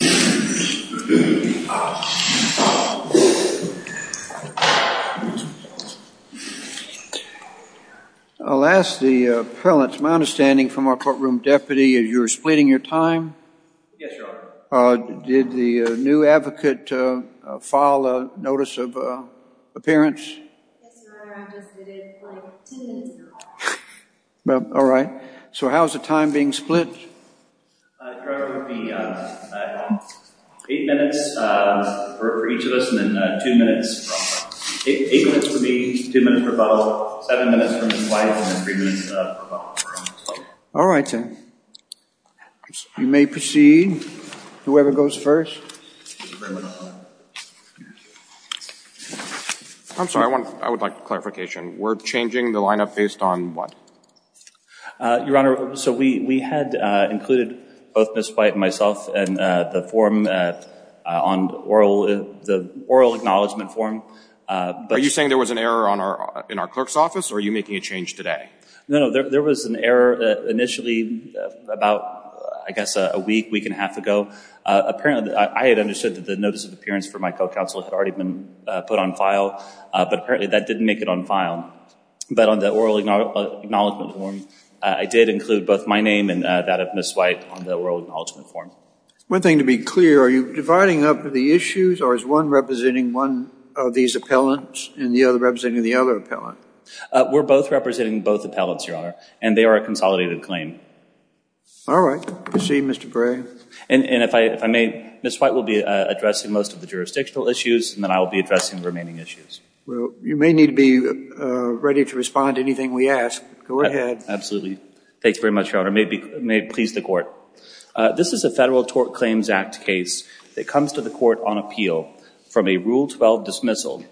I'll ask the appellant, it's my understanding from our courtroom deputy, you're splitting your time? Yes, your honor. Did the new advocate file a notice of appearance? Yes, your honor, I just did, it's like 10 minutes ago. All right, so how's the time being split? It would be 8 minutes for each of us, and then 2 minutes, 8 minutes would be 2 minutes per bottle, 7 minutes for Ms. White, and then 3 minutes per bottle. All right then. You may proceed, whoever goes first. I'm sorry, I would like clarification. We're changing the lineup based on what? Your honor, so we had included both Ms. White and myself in the oral acknowledgment form. Are you saying there was an error in our clerk's office, or are you making a change today? No, no, there was an error initially about, I guess, a week, week and a half ago. Apparently, I had understood that the notice of appearance for my co-counsel had already been put on file, but apparently that didn't make it on file. But on the oral acknowledgment form, I did include both my name and that of Ms. White on the oral acknowledgment form. One thing to be clear, are you dividing up the issues, or is one representing one of these appellants and the other representing the other appellant? We're both representing both appellants, your honor, and they are a consolidated claim. All right. Proceed, Mr. Gray. And if I may, Ms. White will be addressing most of the jurisdictional issues, and then I will be addressing the remaining issues. Well, you may need to be ready to respond to anything we ask. Go ahead. Absolutely. Thanks very much, your honor. May it please the court. This is a Federal Tort Claims Act case that comes to the court on appeal from a Rule 12 dismissal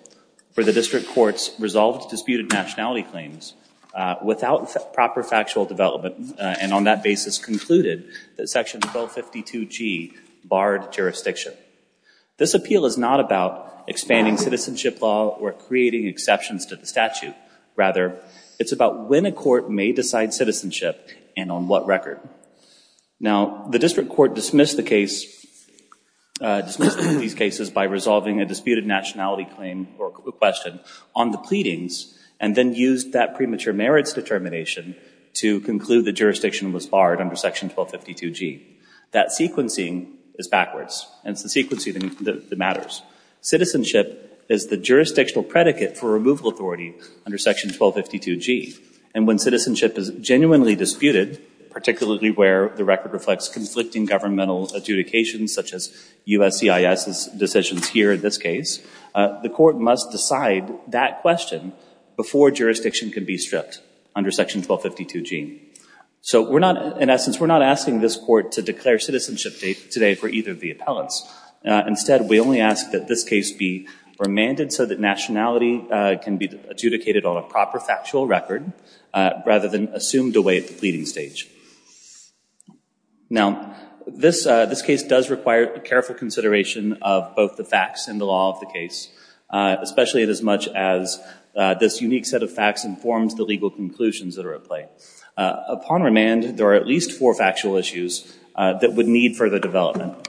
for the district court's resolved disputed nationality claims without proper factual development, and on that basis concluded that Section 1252G barred jurisdiction. This appeal is not about expanding citizenship law or creating exceptions to the statute. Rather, it's about when a court may decide citizenship and on what record. Now, the district court dismissed the case, dismissed these cases by resolving a disputed nationality claim or question on the pleadings and then used that premature merits determination to conclude that jurisdiction was barred under Section 1252G. That sequencing is backwards, and it's the sequencing that matters. Citizenship is the jurisdictional predicate for removal authority under Section 1252G, and when citizenship is genuinely disputed, particularly where the record reflects conflicting governmental adjudications such as USCIS's decisions here in this case, the court must decide that question before jurisdiction can be stripped under Section 1252G. So we're not, in essence, we're not asking this court to declare citizenship today for either of the appellants. Instead, we only ask that this case be remanded so that nationality can be adjudicated on a proper factual record rather than assumed away at the pleading stage. Now, this case does require careful consideration of both the facts and the law of the case, especially as much as this unique set of facts informs the legal conclusions that are at play. Upon remand, there are at least four factual issues that would need further development.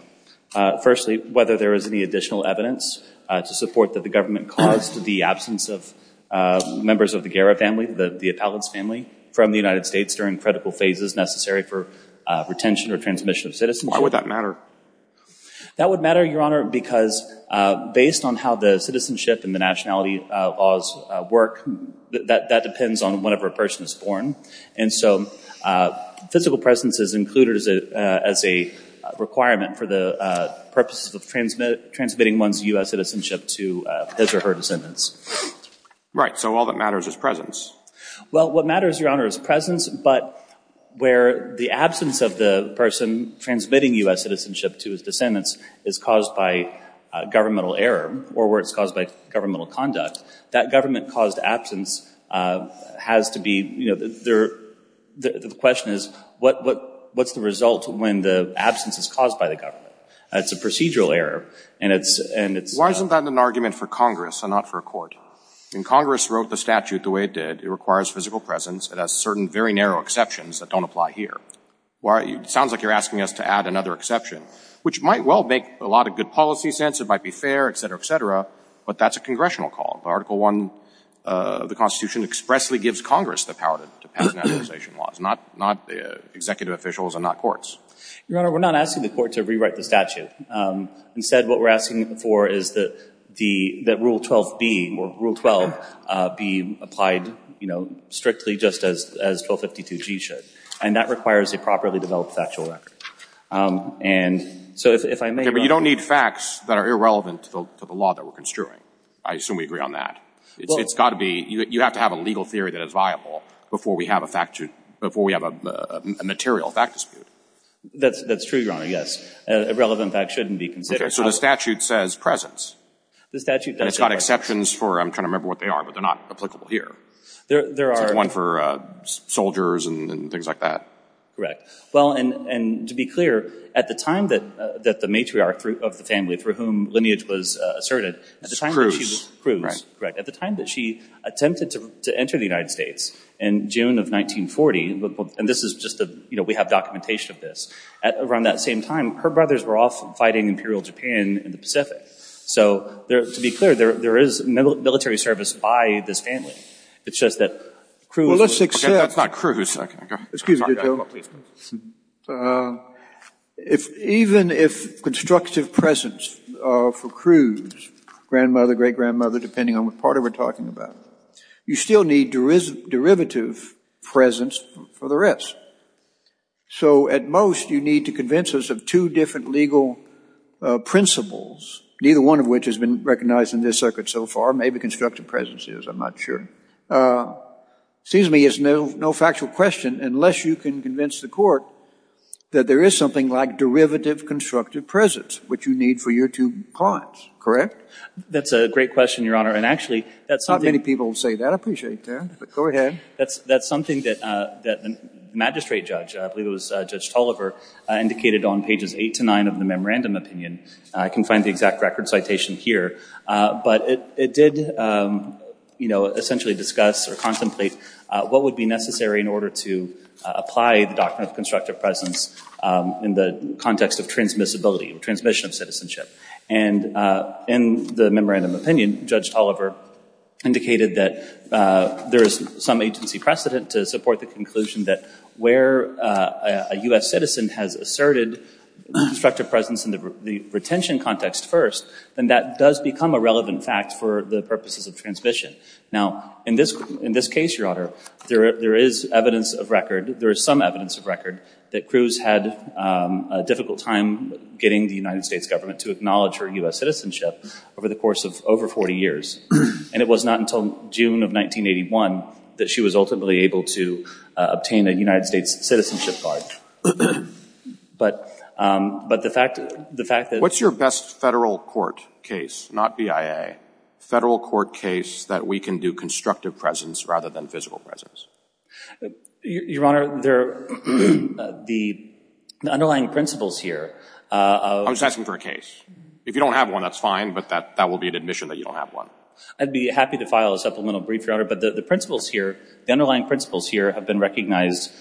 Firstly, whether there is any additional evidence to support that the government caused the absence of members of the Guerra family, the appellant's family, from the United States during critical phases necessary for retention or transmission of citizenship. Why would that matter? That would matter, Your Honor, because based on how the citizenship and the nationality laws work, that depends on whenever a person is born. And so physical presence is included as a requirement for the purposes of transmitting one's U.S. citizenship to his or her descendants. Right, so all that matters is presence. Well, what matters, Your Honor, is presence, but where the absence of the person transmitting U.S. citizenship to his descendants is caused by governmental error or where it's caused by governmental conduct, that government-caused absence has to be, you know, the question is, what's the result when the absence is caused by the government? It's a procedural error, and it's... Why isn't that an argument for Congress and not for a court? Congress wrote the statute the way it did. It requires physical presence. It has certain very narrow exceptions that don't apply here. It sounds like you're asking us to add another exception, which might well make a lot of good policy sense. It might be fair, et cetera, et cetera. But that's a congressional call. Article I of the Constitution expressly gives Congress the power to pass nationalization laws, not executive officials and not courts. Your Honor, we're not asking the court to rewrite the statute. Instead, what we're asking for is that Rule 12 be applied, you know, strictly just as 1252G should. And that requires a properly developed factual record. And so if I may... But you don't need facts that are irrelevant to the law that we're construing. I assume we agree on that. It's got to be... You have to have a legal theory that is viable before we have a material fact dispute. That's true, Your Honor, yes. Irrelevant facts shouldn't be considered. Okay. So the statute says presence. The statute does... And it's got exceptions for... I'm trying to remember what they are, but they're not applicable here. There are... One for soldiers and things like that. Correct. Well, and to be clear, at the time that the matriarch of the family for whom lineage was asserted... Cruz, correct. At the time that she attempted to enter the United States in June of 1940, and this is just a... You know, we have documentation of this. Around that same time, her brothers were off fighting Imperial Japan in the Pacific. So to be clear, there is military service by this family. It's just that Cruz... Well, let's accept... That's not Cruz. Okay. Excuse me, Your Honor. Even if constructive presence for Cruz, grandmother, great-grandmother, depending on what part we're talking about, you still need derivative presence for the rest. So at most, you need to convince us of two different legal principles, neither one of which has been recognized in this circuit so far. Maybe constructive presence is. I'm not sure. Excuse me. It's no factual question unless you can convince the court that there is something like derivative constructive presence, which you need for your two clients. Correct? That's a great question, Your Honor. And actually, that's something... Not many people say that. I appreciate that. But go ahead. That's something that the magistrate judge, I believe it was Judge Tolliver, indicated on pages 8 to 9 of the memorandum opinion. I can find the exact record citation here. But it did essentially discuss or contemplate what would be necessary in order to apply the doctrine of constructive presence in the context of transmissibility or transmission of citizenship. And in the memorandum opinion, Judge Tolliver indicated that there is some agency precedent to support the conclusion that where a U.S. citizen has asserted constructive presence in the retention context first, then that does become a relevant fact for the purposes of transmission. Now, in this case, Your Honor, there is evidence of record, there is some evidence of record that Cruz had a difficult time getting the United States government to acknowledge her U.S. citizenship over the course of over 40 years. And it was not until June of 1981 that she was ultimately able to obtain a United States citizenship card. But the fact that... What's your best federal court case, not BIA, federal court case that we can do constructive presence rather than physical presence? Your Honor, the underlying principles here... I was asking for a case. If you don't have one, that's fine, but that will be an admission that you don't have one. I'd be happy to file a supplemental brief, Your Honor, but the underlying principles here have been recognized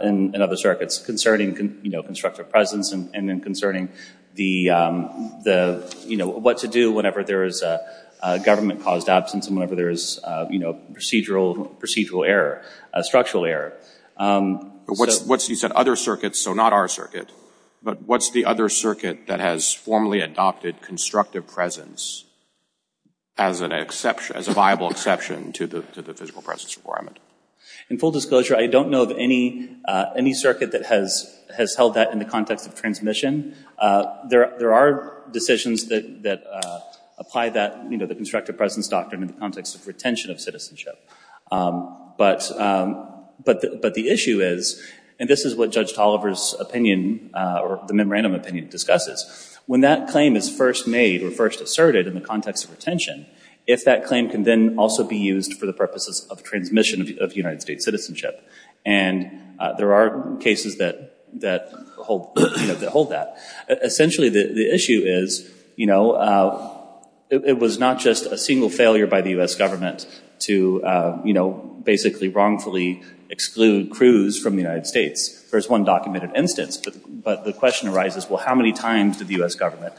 in other circuits concerning constructive presence and then concerning what to do whenever there is a government-caused absence and whenever there is a procedural error, a structural error. But you said other circuits, so not our circuit. But what's the other circuit that has formally adopted constructive presence as a viable exception to the physical presence requirement? In full disclosure, I don't know of any circuit that has held that in the context of transmission. There are decisions that apply the constructive presence doctrine in the context of retention of citizenship. But the issue is, and this is what Judge Tolliver's opinion or the memorandum opinion discusses, when that claim is first made or first asserted in the context of retention, if that claim can then also be used for the purposes of transmission of United States citizenship. And there are cases that hold that. Essentially, the issue is, it was not just a single failure by the U.S. government to basically wrongfully exclude Cruz from the United States. There's one documented instance, but the question arises, well, how many times did the U.S. government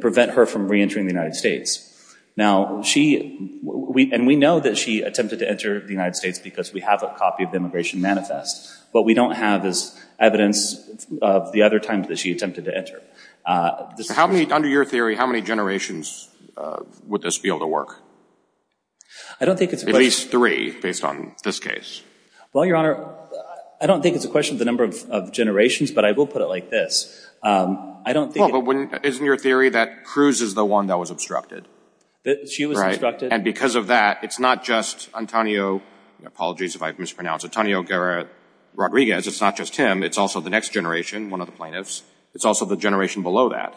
prevent her from reentering the United States? Now, and we know that she attempted to enter the United States because we have a copy of the Immigration Manifest. What we don't have is evidence of the other times that she attempted to enter. Under your theory, how many generations would this be able to work? At least three, based on this case. Well, Your Honor, I don't think it's a question of the number of generations, but I will put it like this. Well, but isn't your theory that Cruz is the one that was obstructed? She was obstructed. And because of that, it's not just Antonio, apologies if I've mispronounced, Antonio Rodriguez, it's not just him, it's also the next generation, one of the plaintiffs. It's also the generation below that.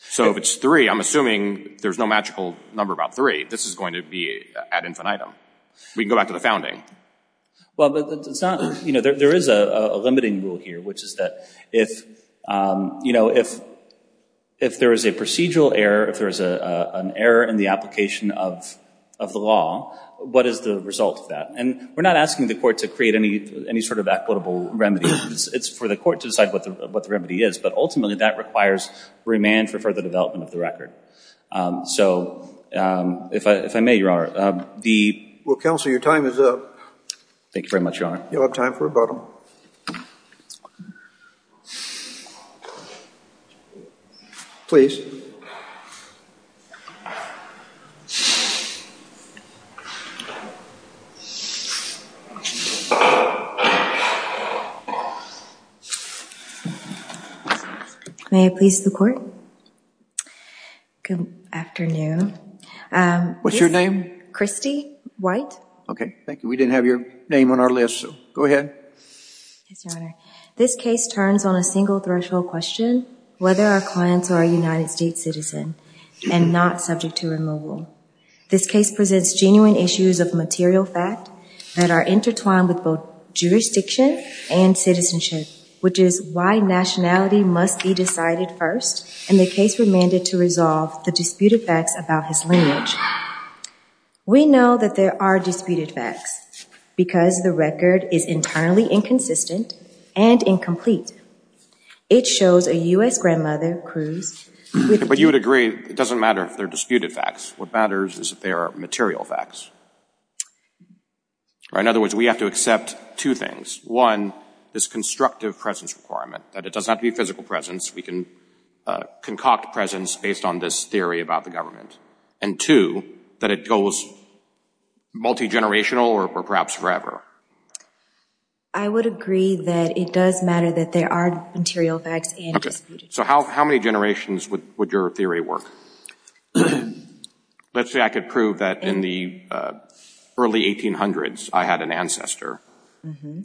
So if it's three, I'm assuming there's no magical number about three. This is going to be ad infinitum. We can go back to the founding. Well, but there is a limiting rule here, which is that if there is a procedural error, if there is an error in the application of the law, what is the result of that? And we're not asking the court to create any sort of equitable remedy. It's for the court to decide what the remedy is, but ultimately that requires remand for further development of the record. So if I may, Your Honor. Well, Counsel, your time is up. Thank you very much, Your Honor. You'll have time for rebuttal. Please. May it please the court. Good afternoon. What's your name? Christy White. Okay, thank you. We didn't have your name on our list, so go ahead. Yes, Your Honor. This case turns on a single threshold question, whether our clients are a United States citizen and not subject to removal. This case presents genuine issues of material fact that are intertwined with both jurisdiction and citizenship, which is why nationality must be decided first, and the case remanded to resolve the disputed facts about his lineage. We know that there are disputed facts because the record is entirely inconsistent and incomplete. It shows a U.S. grandmother, Cruz. But you would agree it doesn't matter if they're disputed facts. What matters is that they are material facts. In other words, we have to accept two things. One, this constructive presence requirement, that it does not have to be physical presence. We can concoct presence based on this theory about the government. And two, that it goes multi-generational or perhaps forever. I would agree that it does matter that they are material facts and disputed facts. Okay. So how many generations would your theory work? Let's say I could prove that in the early 1800s I had an ancestor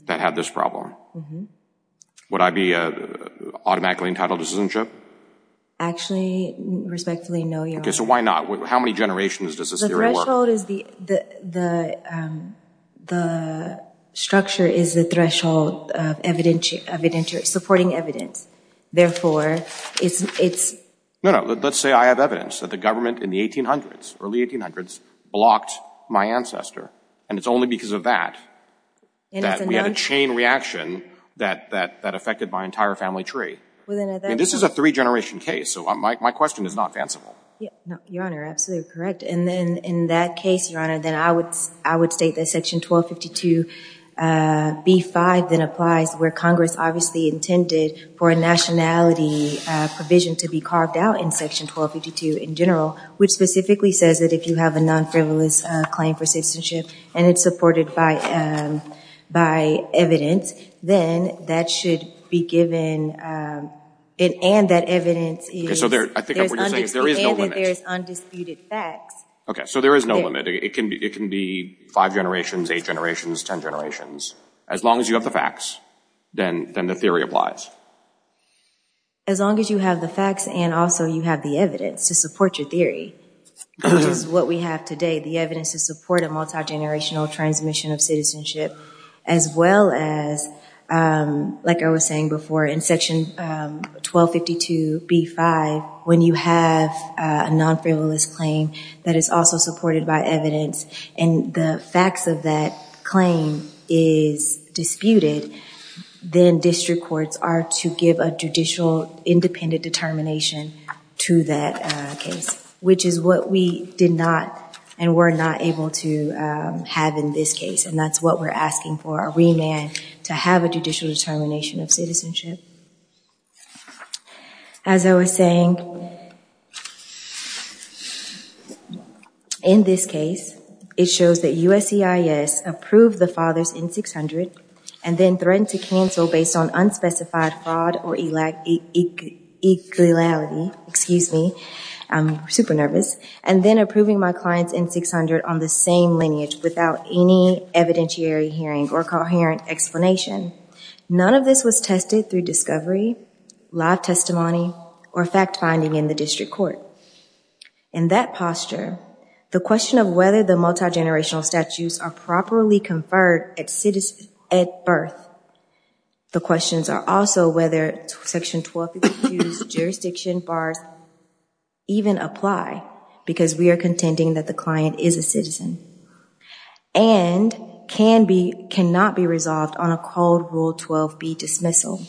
that had this problem. Would I be automatically entitled to citizenship? Actually, respectfully, no, Your Honor. Okay, so why not? How many generations does this theory work? The structure is the threshold of supporting evidence. Therefore, it's... No, no. Let's say I have evidence that the government in the 1800s, early 1800s, blocked my ancestor, and it's only because of that that we had a chain reaction that affected my entire family tree. And this is a three-generation case. So my question is not fanciful. Your Honor, absolutely correct. And then in that case, Your Honor, then I would state that Section 1252b-5 then applies where Congress obviously intended for a nationality provision to be carved out in Section 1252 in general, which specifically says that if you have a non-frivolous claim for citizenship and it's supported by evidence, then that should be given and that evidence is... Okay, so I think what you're saying is there is no limit. ...and that there is undisputed facts. Okay, so there is no limit. It can be five generations, eight generations, ten generations. As long as you have the facts, then the theory applies. As long as you have the facts and also you have the evidence to support your theory, which is what we have today, the evidence to support a multigenerational transmission of citizenship, as well as, like I was saying before, in Section 1252b-5, when you have a non-frivolous claim that is also supported by evidence and the facts of that claim is disputed, then district courts are to give a judicial independent determination to that case, which is what we did not and were not able to have in this case, and that's what we're asking for, a remand to have a judicial determination of citizenship. As I was saying, in this case, it shows that USCIS approved the father's N-600 and then threatened to cancel based on unspecified fraud or equality, excuse me, I'm super nervous, and then approving my client's N-600 on the same lineage without any evidentiary hearing or coherent explanation. None of this was tested through discovery, live testimony, or fact-finding in the district court. In that posture, the question of whether the multigenerational statutes are properly conferred at birth. The questions are also whether Section 1252's jurisdiction bars even apply because we are contending that the client is a citizen and cannot be resolved on a Code Rule 12b dismissal.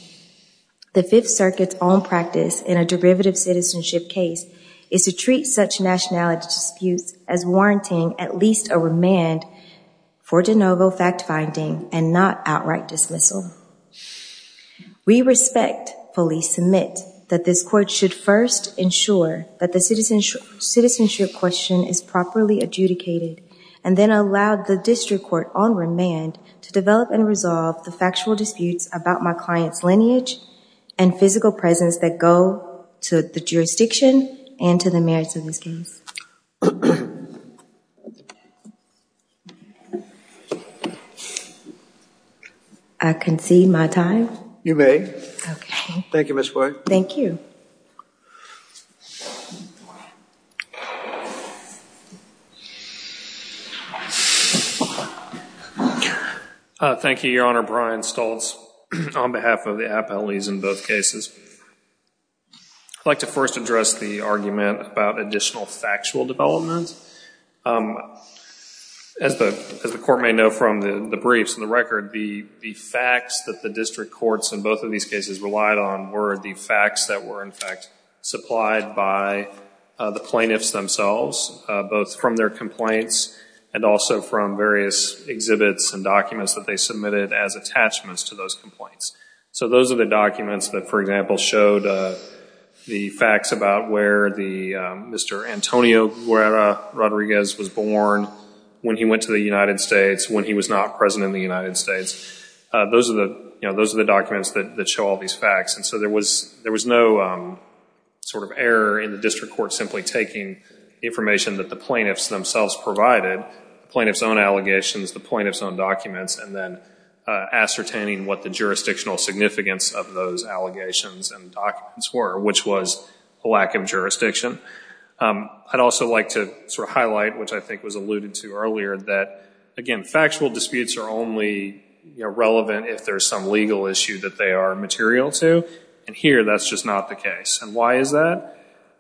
The Fifth Circuit's own practice in a derivative citizenship case is to treat such nationality disputes as warranting at least a remand for de novo fact-finding and not outright dismissal. We respect, fully submit, that this court should first ensure that the citizenship question is properly adjudicated and then allow the district court on remand to develop and resolve the factual disputes about my client's lineage and physical presence that go to the jurisdiction and to the merits of this case. I concede my time. You may. Okay. Thank you, Ms. Boyd. Thank you. Thank you, Your Honor. Brian Stoltz on behalf of the appellees in both cases. I'd like to first address the argument about additional factual development. As the court may know from the briefs and the record, the facts that the district courts in both of these cases relied on were the facts that were, in fact, the facts supplied by the plaintiffs themselves, both from their complaints and also from various exhibits and documents that they submitted as attachments to those complaints. So those are the documents that, for example, showed the facts about where Mr. Antonio Guerra Rodriguez was born, when he went to the United States, when he was not present in the United States. Those are the documents that show all these facts. And so there was no sort of error in the district court simply taking information that the plaintiffs themselves provided, the plaintiffs' own allegations, the plaintiffs' own documents, and then ascertaining what the jurisdictional significance of those allegations and documents were, which was a lack of jurisdiction. I'd also like to sort of highlight, which I think was alluded to earlier, that, again, factual disputes are only relevant if there's some legal issue that they are material to, and here that's just not the case. And why is that?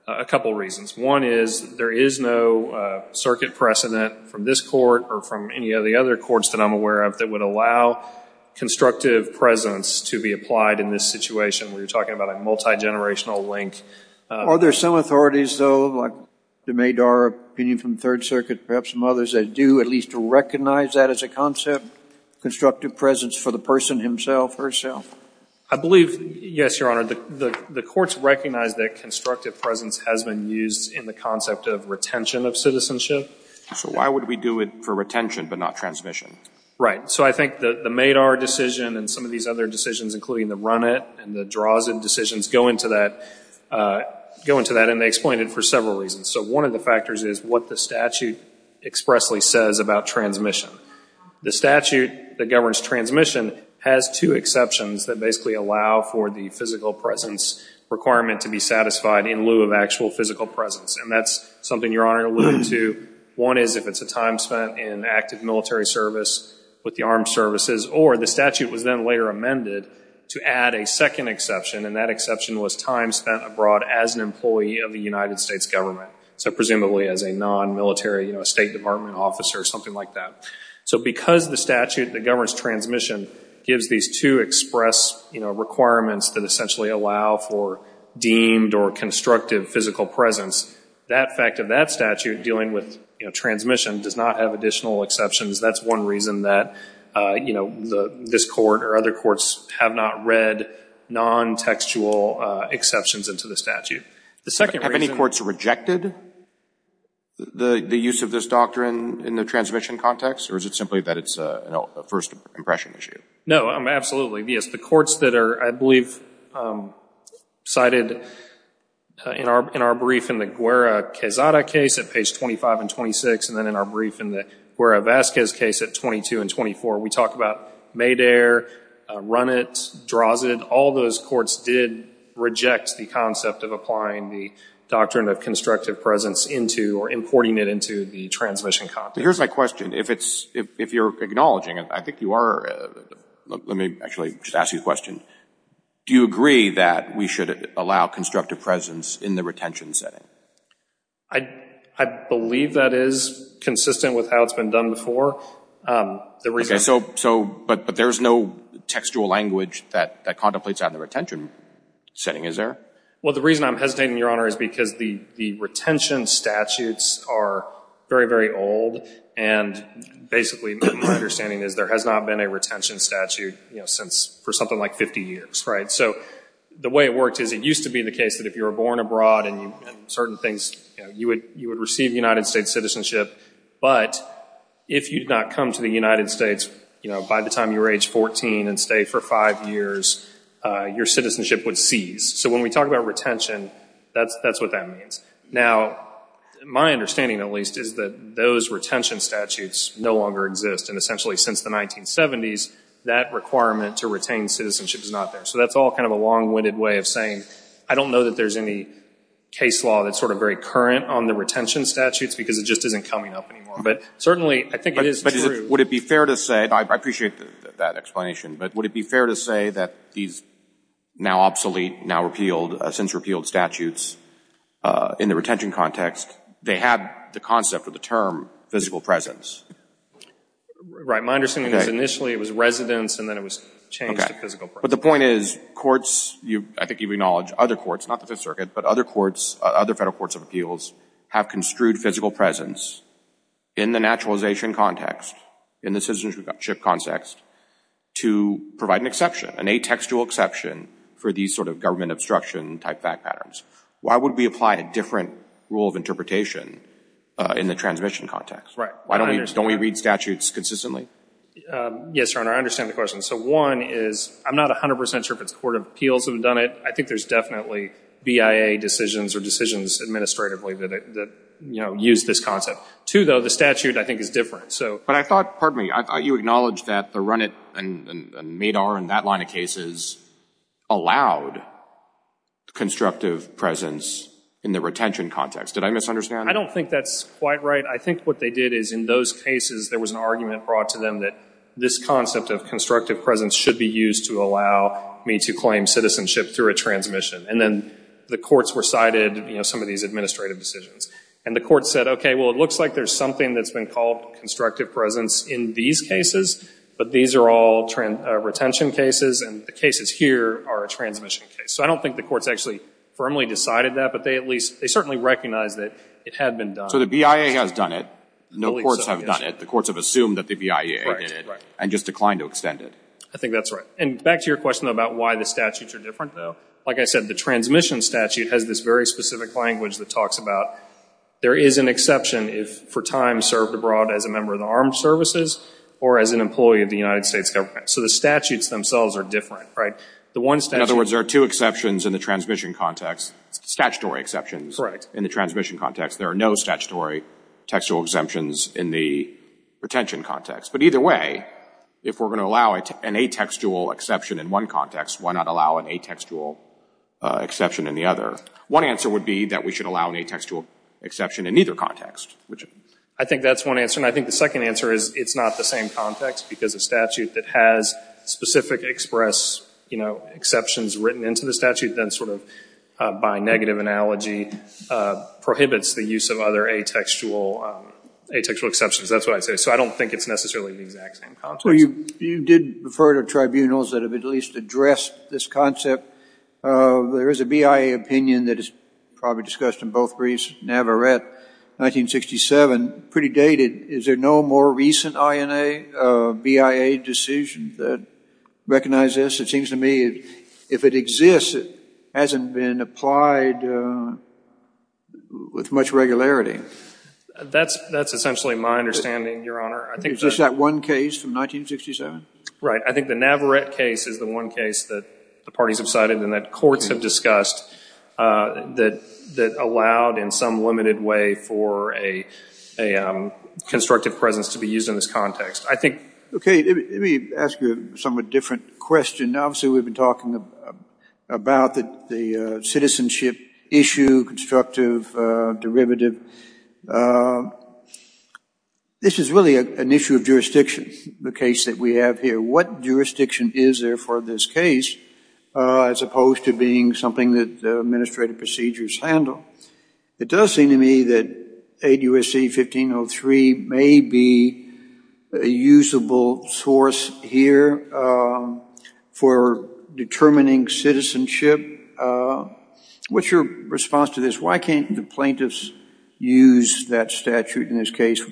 A couple of reasons. One is there is no circuit precedent from this court or from any of the other courts that I'm aware of that would allow constructive presence to be applied in this situation. We were talking about a multigenerational link. Are there some authorities, though, like the MADAR opinion from Third Circuit, perhaps some others that do at least recognize that as a concept, constructive presence for the person himself or herself? I believe, yes, Your Honor, the courts recognize that constructive presence has been used in the concept of retention of citizenship. So why would we do it for retention but not transmission? Right. So I think the MADAR decision and some of these other decisions, including the RUNIT and the DROZD decisions, go into that, and they explain it for several reasons. So one of the factors is what the statute expressly says about transmission. The statute that governs transmission has two exceptions that basically allow for the physical presence requirement to be satisfied in lieu of actual physical presence, and that's something Your Honor alluded to. One is if it's a time spent in active military service with the armed services, or the statute was then later amended to add a second exception, and that exception was time spent abroad as an employee of the United States government, so presumably as a non-military State Department officer or something like that. So because the statute that governs transmission gives these two express requirements that essentially allow for deemed or constructive physical presence, that fact of that statute dealing with transmission does not have additional exceptions. That's one reason that this court or other courts have not read non-textual exceptions into the statute. The second reason... Have any courts rejected the use of this doctrine in the transmission context, or is it simply that it's a first impression issue? No, absolutely. Yes, the courts that are, I believe, cited in our brief in the Guerra-Quesada case at page 25 and 26, and then in our brief in the Guerra-Vazquez case at 22 and 24, we talk about MEDAIR, RUNIT, DROZD, all those courts did reject the concept of applying the doctrine of constructive presence into or importing it into the transmission context. Here's my question. If you're acknowledging it, I think you are. Let me actually just ask you a question. Do you agree that we should allow constructive presence in the retention setting? I believe that is consistent with how it's been done before. But there's no textual language that contemplates on the retention setting, is there? Well, the reason I'm hesitating, Your Honor, is because the retention statutes are very, very old, and basically my understanding is there has not been a retention statute for something like 50 years, right? So the way it worked is it used to be the case that if you were born abroad and certain things, you would receive United States citizenship, but if you did not come to the United States by the time you were age 14 and stayed for five years, your citizenship would cease. So when we talk about retention, that's what that means. Now, my understanding at least is that those retention statutes no longer exist, and essentially since the 1970s, that requirement to retain citizenship is not there. So that's all kind of a long-winded way of saying, I don't know that there's any case law that's sort of very current on the retention statutes because it just isn't coming up anymore. But certainly I think it is true. But would it be fair to say, and I appreciate that explanation, but would it be fair to say that these now obsolete, now repealed, since repealed statutes in the retention context, they had the concept or the term physical presence? Right. My understanding is initially it was residence and then it was changed to physical presence. Okay. But the point is courts, I think you acknowledge other courts, not the Fifth Circuit, but other courts, other federal courts of appeals, have construed physical presence in the naturalization context, in the citizenship context, to provide an exception, an atextual exception for these sort of government obstruction type fact patterns. Why would we apply a different rule of interpretation in the transmission context? Right. Why don't we read statutes consistently? Yes, Your Honor, I understand the question. So one is, I'm not 100% sure if it's the Court of Appeals that have done it. I think there's definitely BIA decisions or decisions administratively that use this concept. Two, though, the statute, I think, is different. But I thought, pardon me, I thought you acknowledged that the Runit and MADAR and that line of cases allowed constructive presence in the retention context. Did I misunderstand? I don't think that's quite right. I think what they did is, in those cases, there was an argument brought to them that this concept of constructive presence should be used to allow me to claim citizenship through a transmission. And then the courts recited some of these administrative decisions. And the courts said, okay, well, it looks like there's something that's been called constructive presence in these cases, but these are all retention cases and the cases here are a transmission case. So I don't think the courts actually firmly decided that, but they certainly recognized that it had been done. So the BIA has done it. No courts have done it. The courts have assumed that the BIA did it and just declined to extend it. I think that's right. And back to your question about why the statutes are different, though. Like I said, the transmission statute has this very specific language that talks about there is an exception if for time served abroad as a member of the armed services or as an employee of the United States government. So the statutes themselves are different, right? In other words, there are two exceptions in the transmission context, statutory exceptions in the transmission context. There are no statutory textual exemptions in the retention context. But either way, if we're going to allow an atextual exception in one context, why not allow an atextual exception in the other? One answer would be that we should allow an atextual exception in neither context. I think that's one answer, and I think the second answer is it's not the same context because a statute that has specific exceptions written into the statute then sort of by negative analogy prohibits the use of other atextual exceptions. That's what I'd say. So I don't think it's necessarily the exact same context. Well, you did refer to tribunals that have at least addressed this concept. There is a BIA opinion that is probably discussed in both briefs. Navarette, 1967, pretty dated. Is there no more recent BIA decision that recognizes this? It seems to me if it exists, it hasn't been applied with much regularity. That's essentially my understanding, Your Honor. Is this that one case from 1967? Right. I think the Navarette case is the one case that the parties have cited and that courts have discussed that allowed in some limited way for a constructive presence to be used in this context. Okay, let me ask you a somewhat different question. Obviously, we've been talking about the citizenship issue, constructive derivative. This is really an issue of jurisdiction, the case that we have here. What jurisdiction is there for this case as opposed to being something that the administrative procedures handle? It does seem to me that 8 U.S.C. 1503 may be a usable source here for determining citizenship. What's your response to this? Why can't the plaintiffs use that statute in this case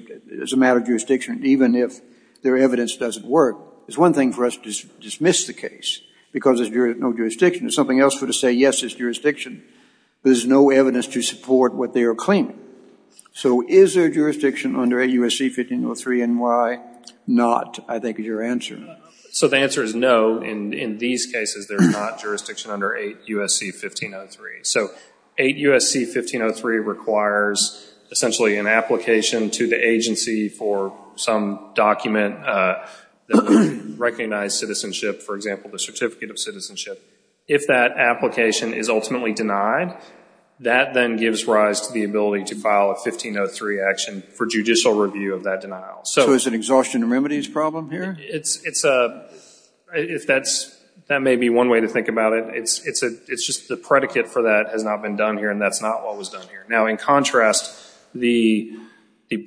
as a matter of jurisdiction even if their evidence doesn't work? It's one thing for us to dismiss the case because there's no jurisdiction. There's something else for us to say, yes, there's jurisdiction, but there's no evidence to support what they are claiming. So is there jurisdiction under 8 U.S.C. 1503 and why not, I think, is your answer. So the answer is no. In these cases, there's not jurisdiction under 8 U.S.C. 1503. So 8 U.S.C. 1503 requires essentially an application to the agency for some document that would recognize citizenship, for example, the Certificate of Citizenship. If that application is ultimately denied, that then gives rise to the ability to file a 1503 action for judicial review of that denial. So is it an exhaustion of remedies problem here? That may be one way to think about it. It's just the predicate for that has not been done here, and that's not what was done here. Now, in contrast, the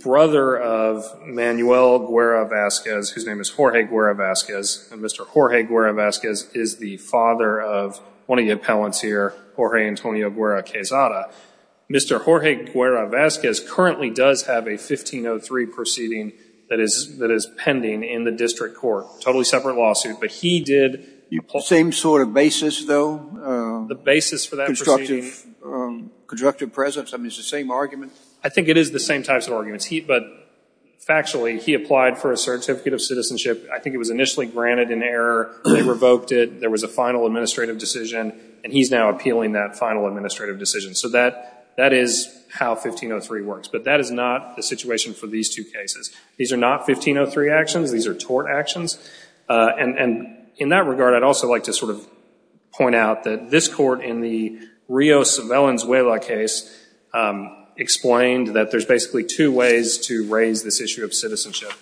brother of Manuel Guerra Vazquez, whose name is Jorge Guerra Vazquez, and Mr. Jorge Guerra Vazquez is the father of one of your appellants here, Jorge Antonio Guerra Quezada. Mr. Jorge Guerra Vazquez currently does have a 1503 proceeding that is pending in the district court, totally separate lawsuit. But he did- The same sort of basis, though? The basis for that proceeding- Constructive presence? I mean, it's the same argument? I think it is the same types of arguments. But factually, he applied for a Certificate of Citizenship. I think it was initially granted in error. They revoked it. There was a final administrative decision, and he's now appealing that final administrative decision. So that is how 1503 works. But that is not the situation for these two cases. These are not 1503 actions. These are tort actions. And in that regard, I'd also like to sort of point out that this court, in the Rios-Velenzuela case, explained that there's basically two ways to raise this issue of citizenship.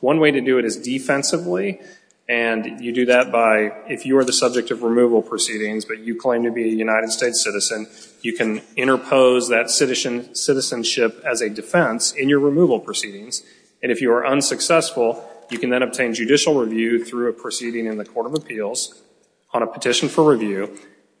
One way to do it is defensively, and you do that by, if you are the subject of removal proceedings but you claim to be a United States citizen, you can interpose that citizenship as a defense in your removal proceedings. And if you are unsuccessful, you can then obtain judicial review through a proceeding in the Court of Appeals on a petition for review.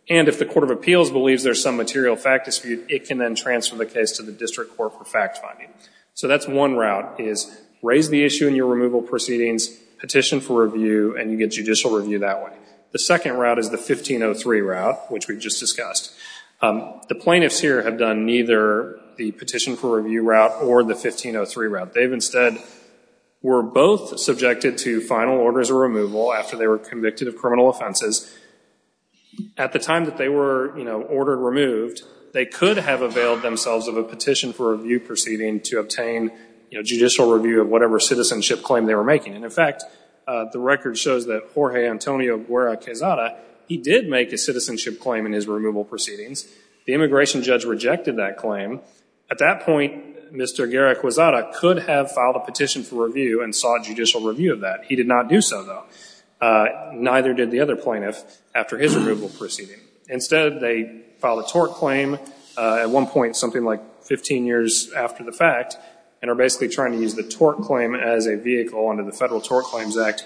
And if the Court of Appeals believes there's some material fact dispute, it can then transfer the case to the district court for fact finding. So that's one route, is raise the issue in your removal proceedings, petition for review, and you get judicial review that way. The second route is the 1503 route, which we just discussed. The plaintiffs here have done neither the petition for review route or the 1503 route. They've instead were both subjected to final orders of removal after they were convicted of criminal offenses. At the time that they were ordered removed, they could have availed themselves of a petition for review proceeding to obtain judicial review of whatever citizenship claim they were making. And, in fact, the record shows that Jorge Antonio Guerra Quezada, he did make a citizenship claim in his removal proceedings. The immigration judge rejected that claim. At that point, Mr. Guerra Quezada could have filed a petition for review and sought judicial review of that. He did not do so, though. Neither did the other plaintiff after his removal proceeding. Instead, they filed a tort claim at one point, something like 15 years after the fact, and are basically trying to use the tort claim as a vehicle under the Federal Tort Claims Act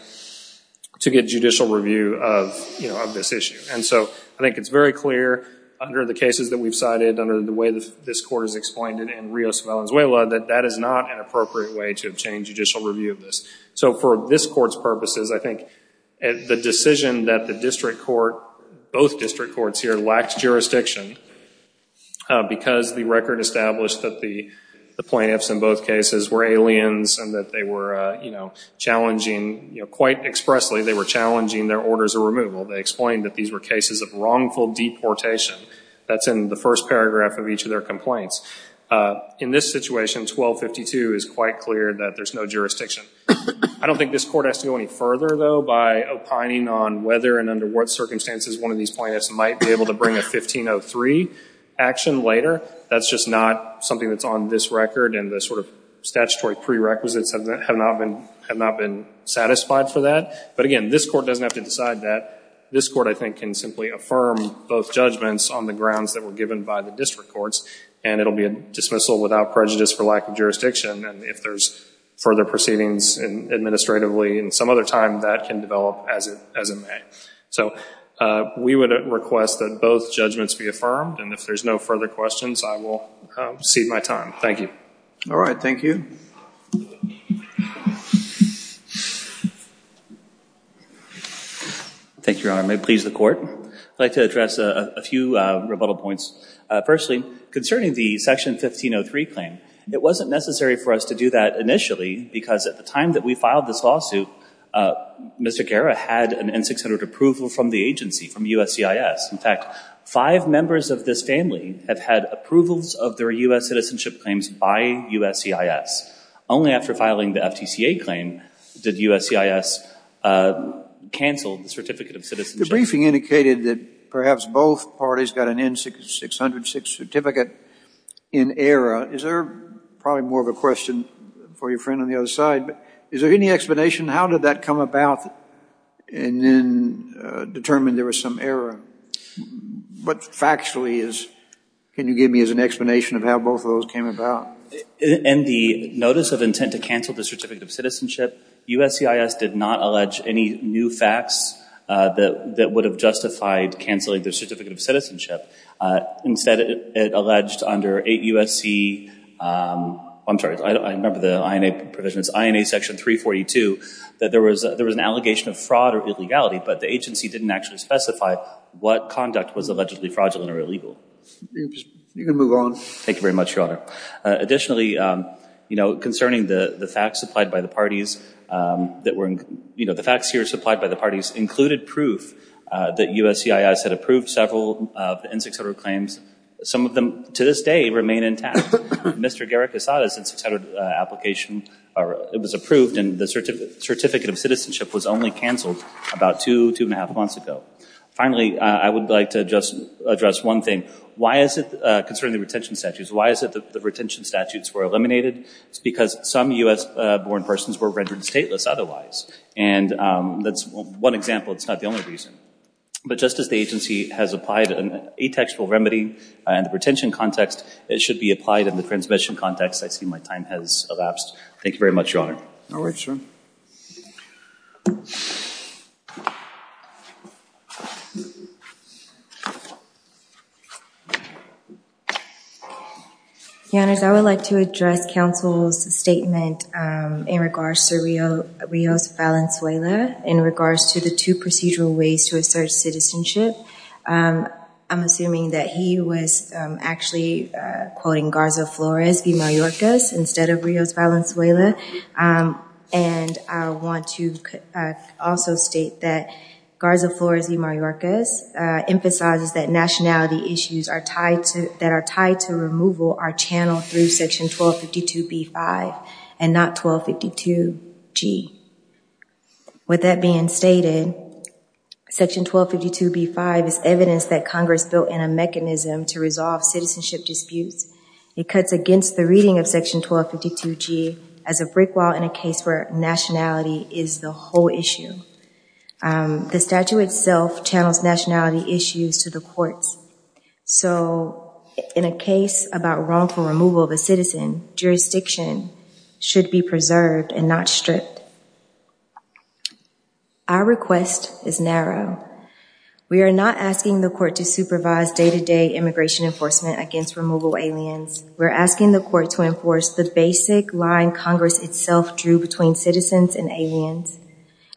to get judicial review of this issue. And so I think it's very clear under the cases that we've cited, under the way this court has explained it in Rios and Valenzuela, that that is not an appropriate way to obtain judicial review of this. So for this court's purposes, I think the decision that the district court, both district courts here, lacked jurisdiction because the record established that the plaintiffs in both cases were aliens and that they were challenging, quite expressly, they were challenging their orders of removal. They explained that these were cases of wrongful deportation. That's in the first paragraph of each of their complaints. In this situation, 1252 is quite clear that there's no jurisdiction. I don't think this court has to go any further, though, by opining on whether and under what circumstances one of these plaintiffs might be able to bring a 1503 action later. That's just not something that's on this record and the sort of statutory prerequisites have not been satisfied for that. But again, this court doesn't have to decide that. This court, I think, can simply affirm both judgments on the grounds that were given by the district courts, and it'll be a dismissal without prejudice for lack of jurisdiction. And if there's further proceedings administratively in some other time, that can develop as it may. So we would request that both judgments be affirmed, and if there's no further questions, I will cede my time. Thank you. All right, thank you. Thank you, Your Honor. May it please the Court. I'd like to address a few rebuttal points. Firstly, concerning the Section 1503 claim, it wasn't necessary for us to do that initially because at the time that we filed this lawsuit, Mr. Guerra had an N-600 approval from the agency, from USCIS. In fact, five members of this family have had approvals of their U.S. citizenship claims by USCIS. Only after filing the FTCA claim did USCIS cancel the certificate of citizenship. The briefing indicated that perhaps both parties got an N-600 certificate in error. Is there probably more of a question for your friend on the other side, but is there any explanation how did that come about and then determine there was some error? But factually, can you give me an explanation of how both of those came about? In the notice of intent to cancel the certificate of citizenship, USCIS did not allege any new facts that would have justified canceling the certificate of citizenship. Instead, it alleged under 8 U.S.C. I'm sorry, I remember the INA provisions, INA Section 342, that there was an allegation of fraud or illegality, but the agency didn't actually specify what conduct was allegedly fraudulent or illegal. You can move on. Thank you very much, Your Honor. Additionally, you know, concerning the facts supplied by the parties that were, you know, the facts here supplied by the parties included proof that USCIS had approved several N-600 claims. Some of them to this day remain intact. Mr. Garik Asada's N-600 application, it was approved and the certificate of citizenship was only canceled about two, two and a half months ago. Finally, I would like to just address one thing. Why is it, concerning the retention statutes, why is it that the retention statutes were eliminated? It's because some U.S.-born persons were rendered stateless otherwise, and that's one example, it's not the only reason. But just as the agency has applied an atextual remedy in the retention context, it should be applied in the transmission context. I see my time has elapsed. Thank you very much, Your Honor. No worries, Your Honor. Your Honors, I would like to address counsel's statement in regards to Rios Valenzuela in regards to the two procedural ways to assert citizenship. I'm assuming that he was actually quoting Garza Flores v. Mayorkas instead of Rios Valenzuela. And I want to also state that Garza Flores v. Mayorkas emphasizes that nationality issues that are tied to removal are channeled through Section 1252b-5 and not 1252g. With that being stated, Section 1252b-5 is evidence that Congress built in a mechanism to resolve citizenship disputes. It cuts against the reading of Section 1252g as a brick wall in a case where nationality is the whole issue. The statute itself channels nationality issues to the courts. So in a case about wrongful removal of a citizen, jurisdiction should be preserved and not stripped. Our request is narrow. We are not asking the court to supervise day-to-day immigration enforcement against removal aliens. We're asking the court to enforce the basic line Congress itself drew between citizens and aliens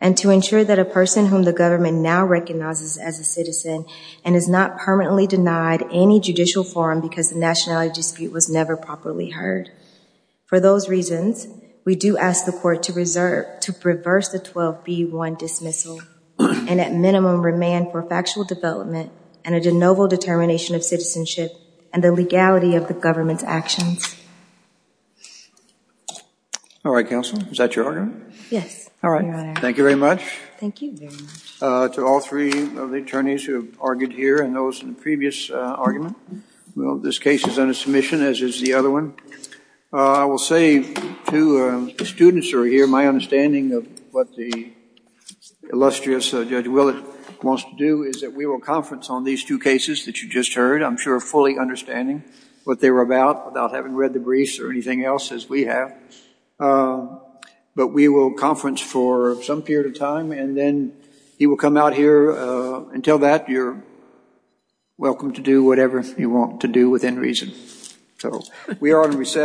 and to ensure that a person whom the government now recognizes as a citizen and is not permanently denied any judicial forum because the nationality dispute was never properly heard. For those reasons, we do ask the court to reverse the 12b-1 dismissal and at minimum remand for factual development and a de novo determination of citizenship and the legality of the government's actions. All right, Counsel. Is that your argument? Yes, Your Honor. Thank you very much. Thank you very much. To all three of the attorneys who have argued here and those in the previous argument, this case is under submission, as is the other one. I will say to the students who are here, my understanding of what the illustrious Judge Willett wants to do is that we will conference on these two cases that you just heard, I'm sure fully understanding what they were about without having read the briefs or anything else, as we have. But we will conference for some period of time and then he will come out here and tell that you're welcome to do whatever you want to do within reason. So we are on recess.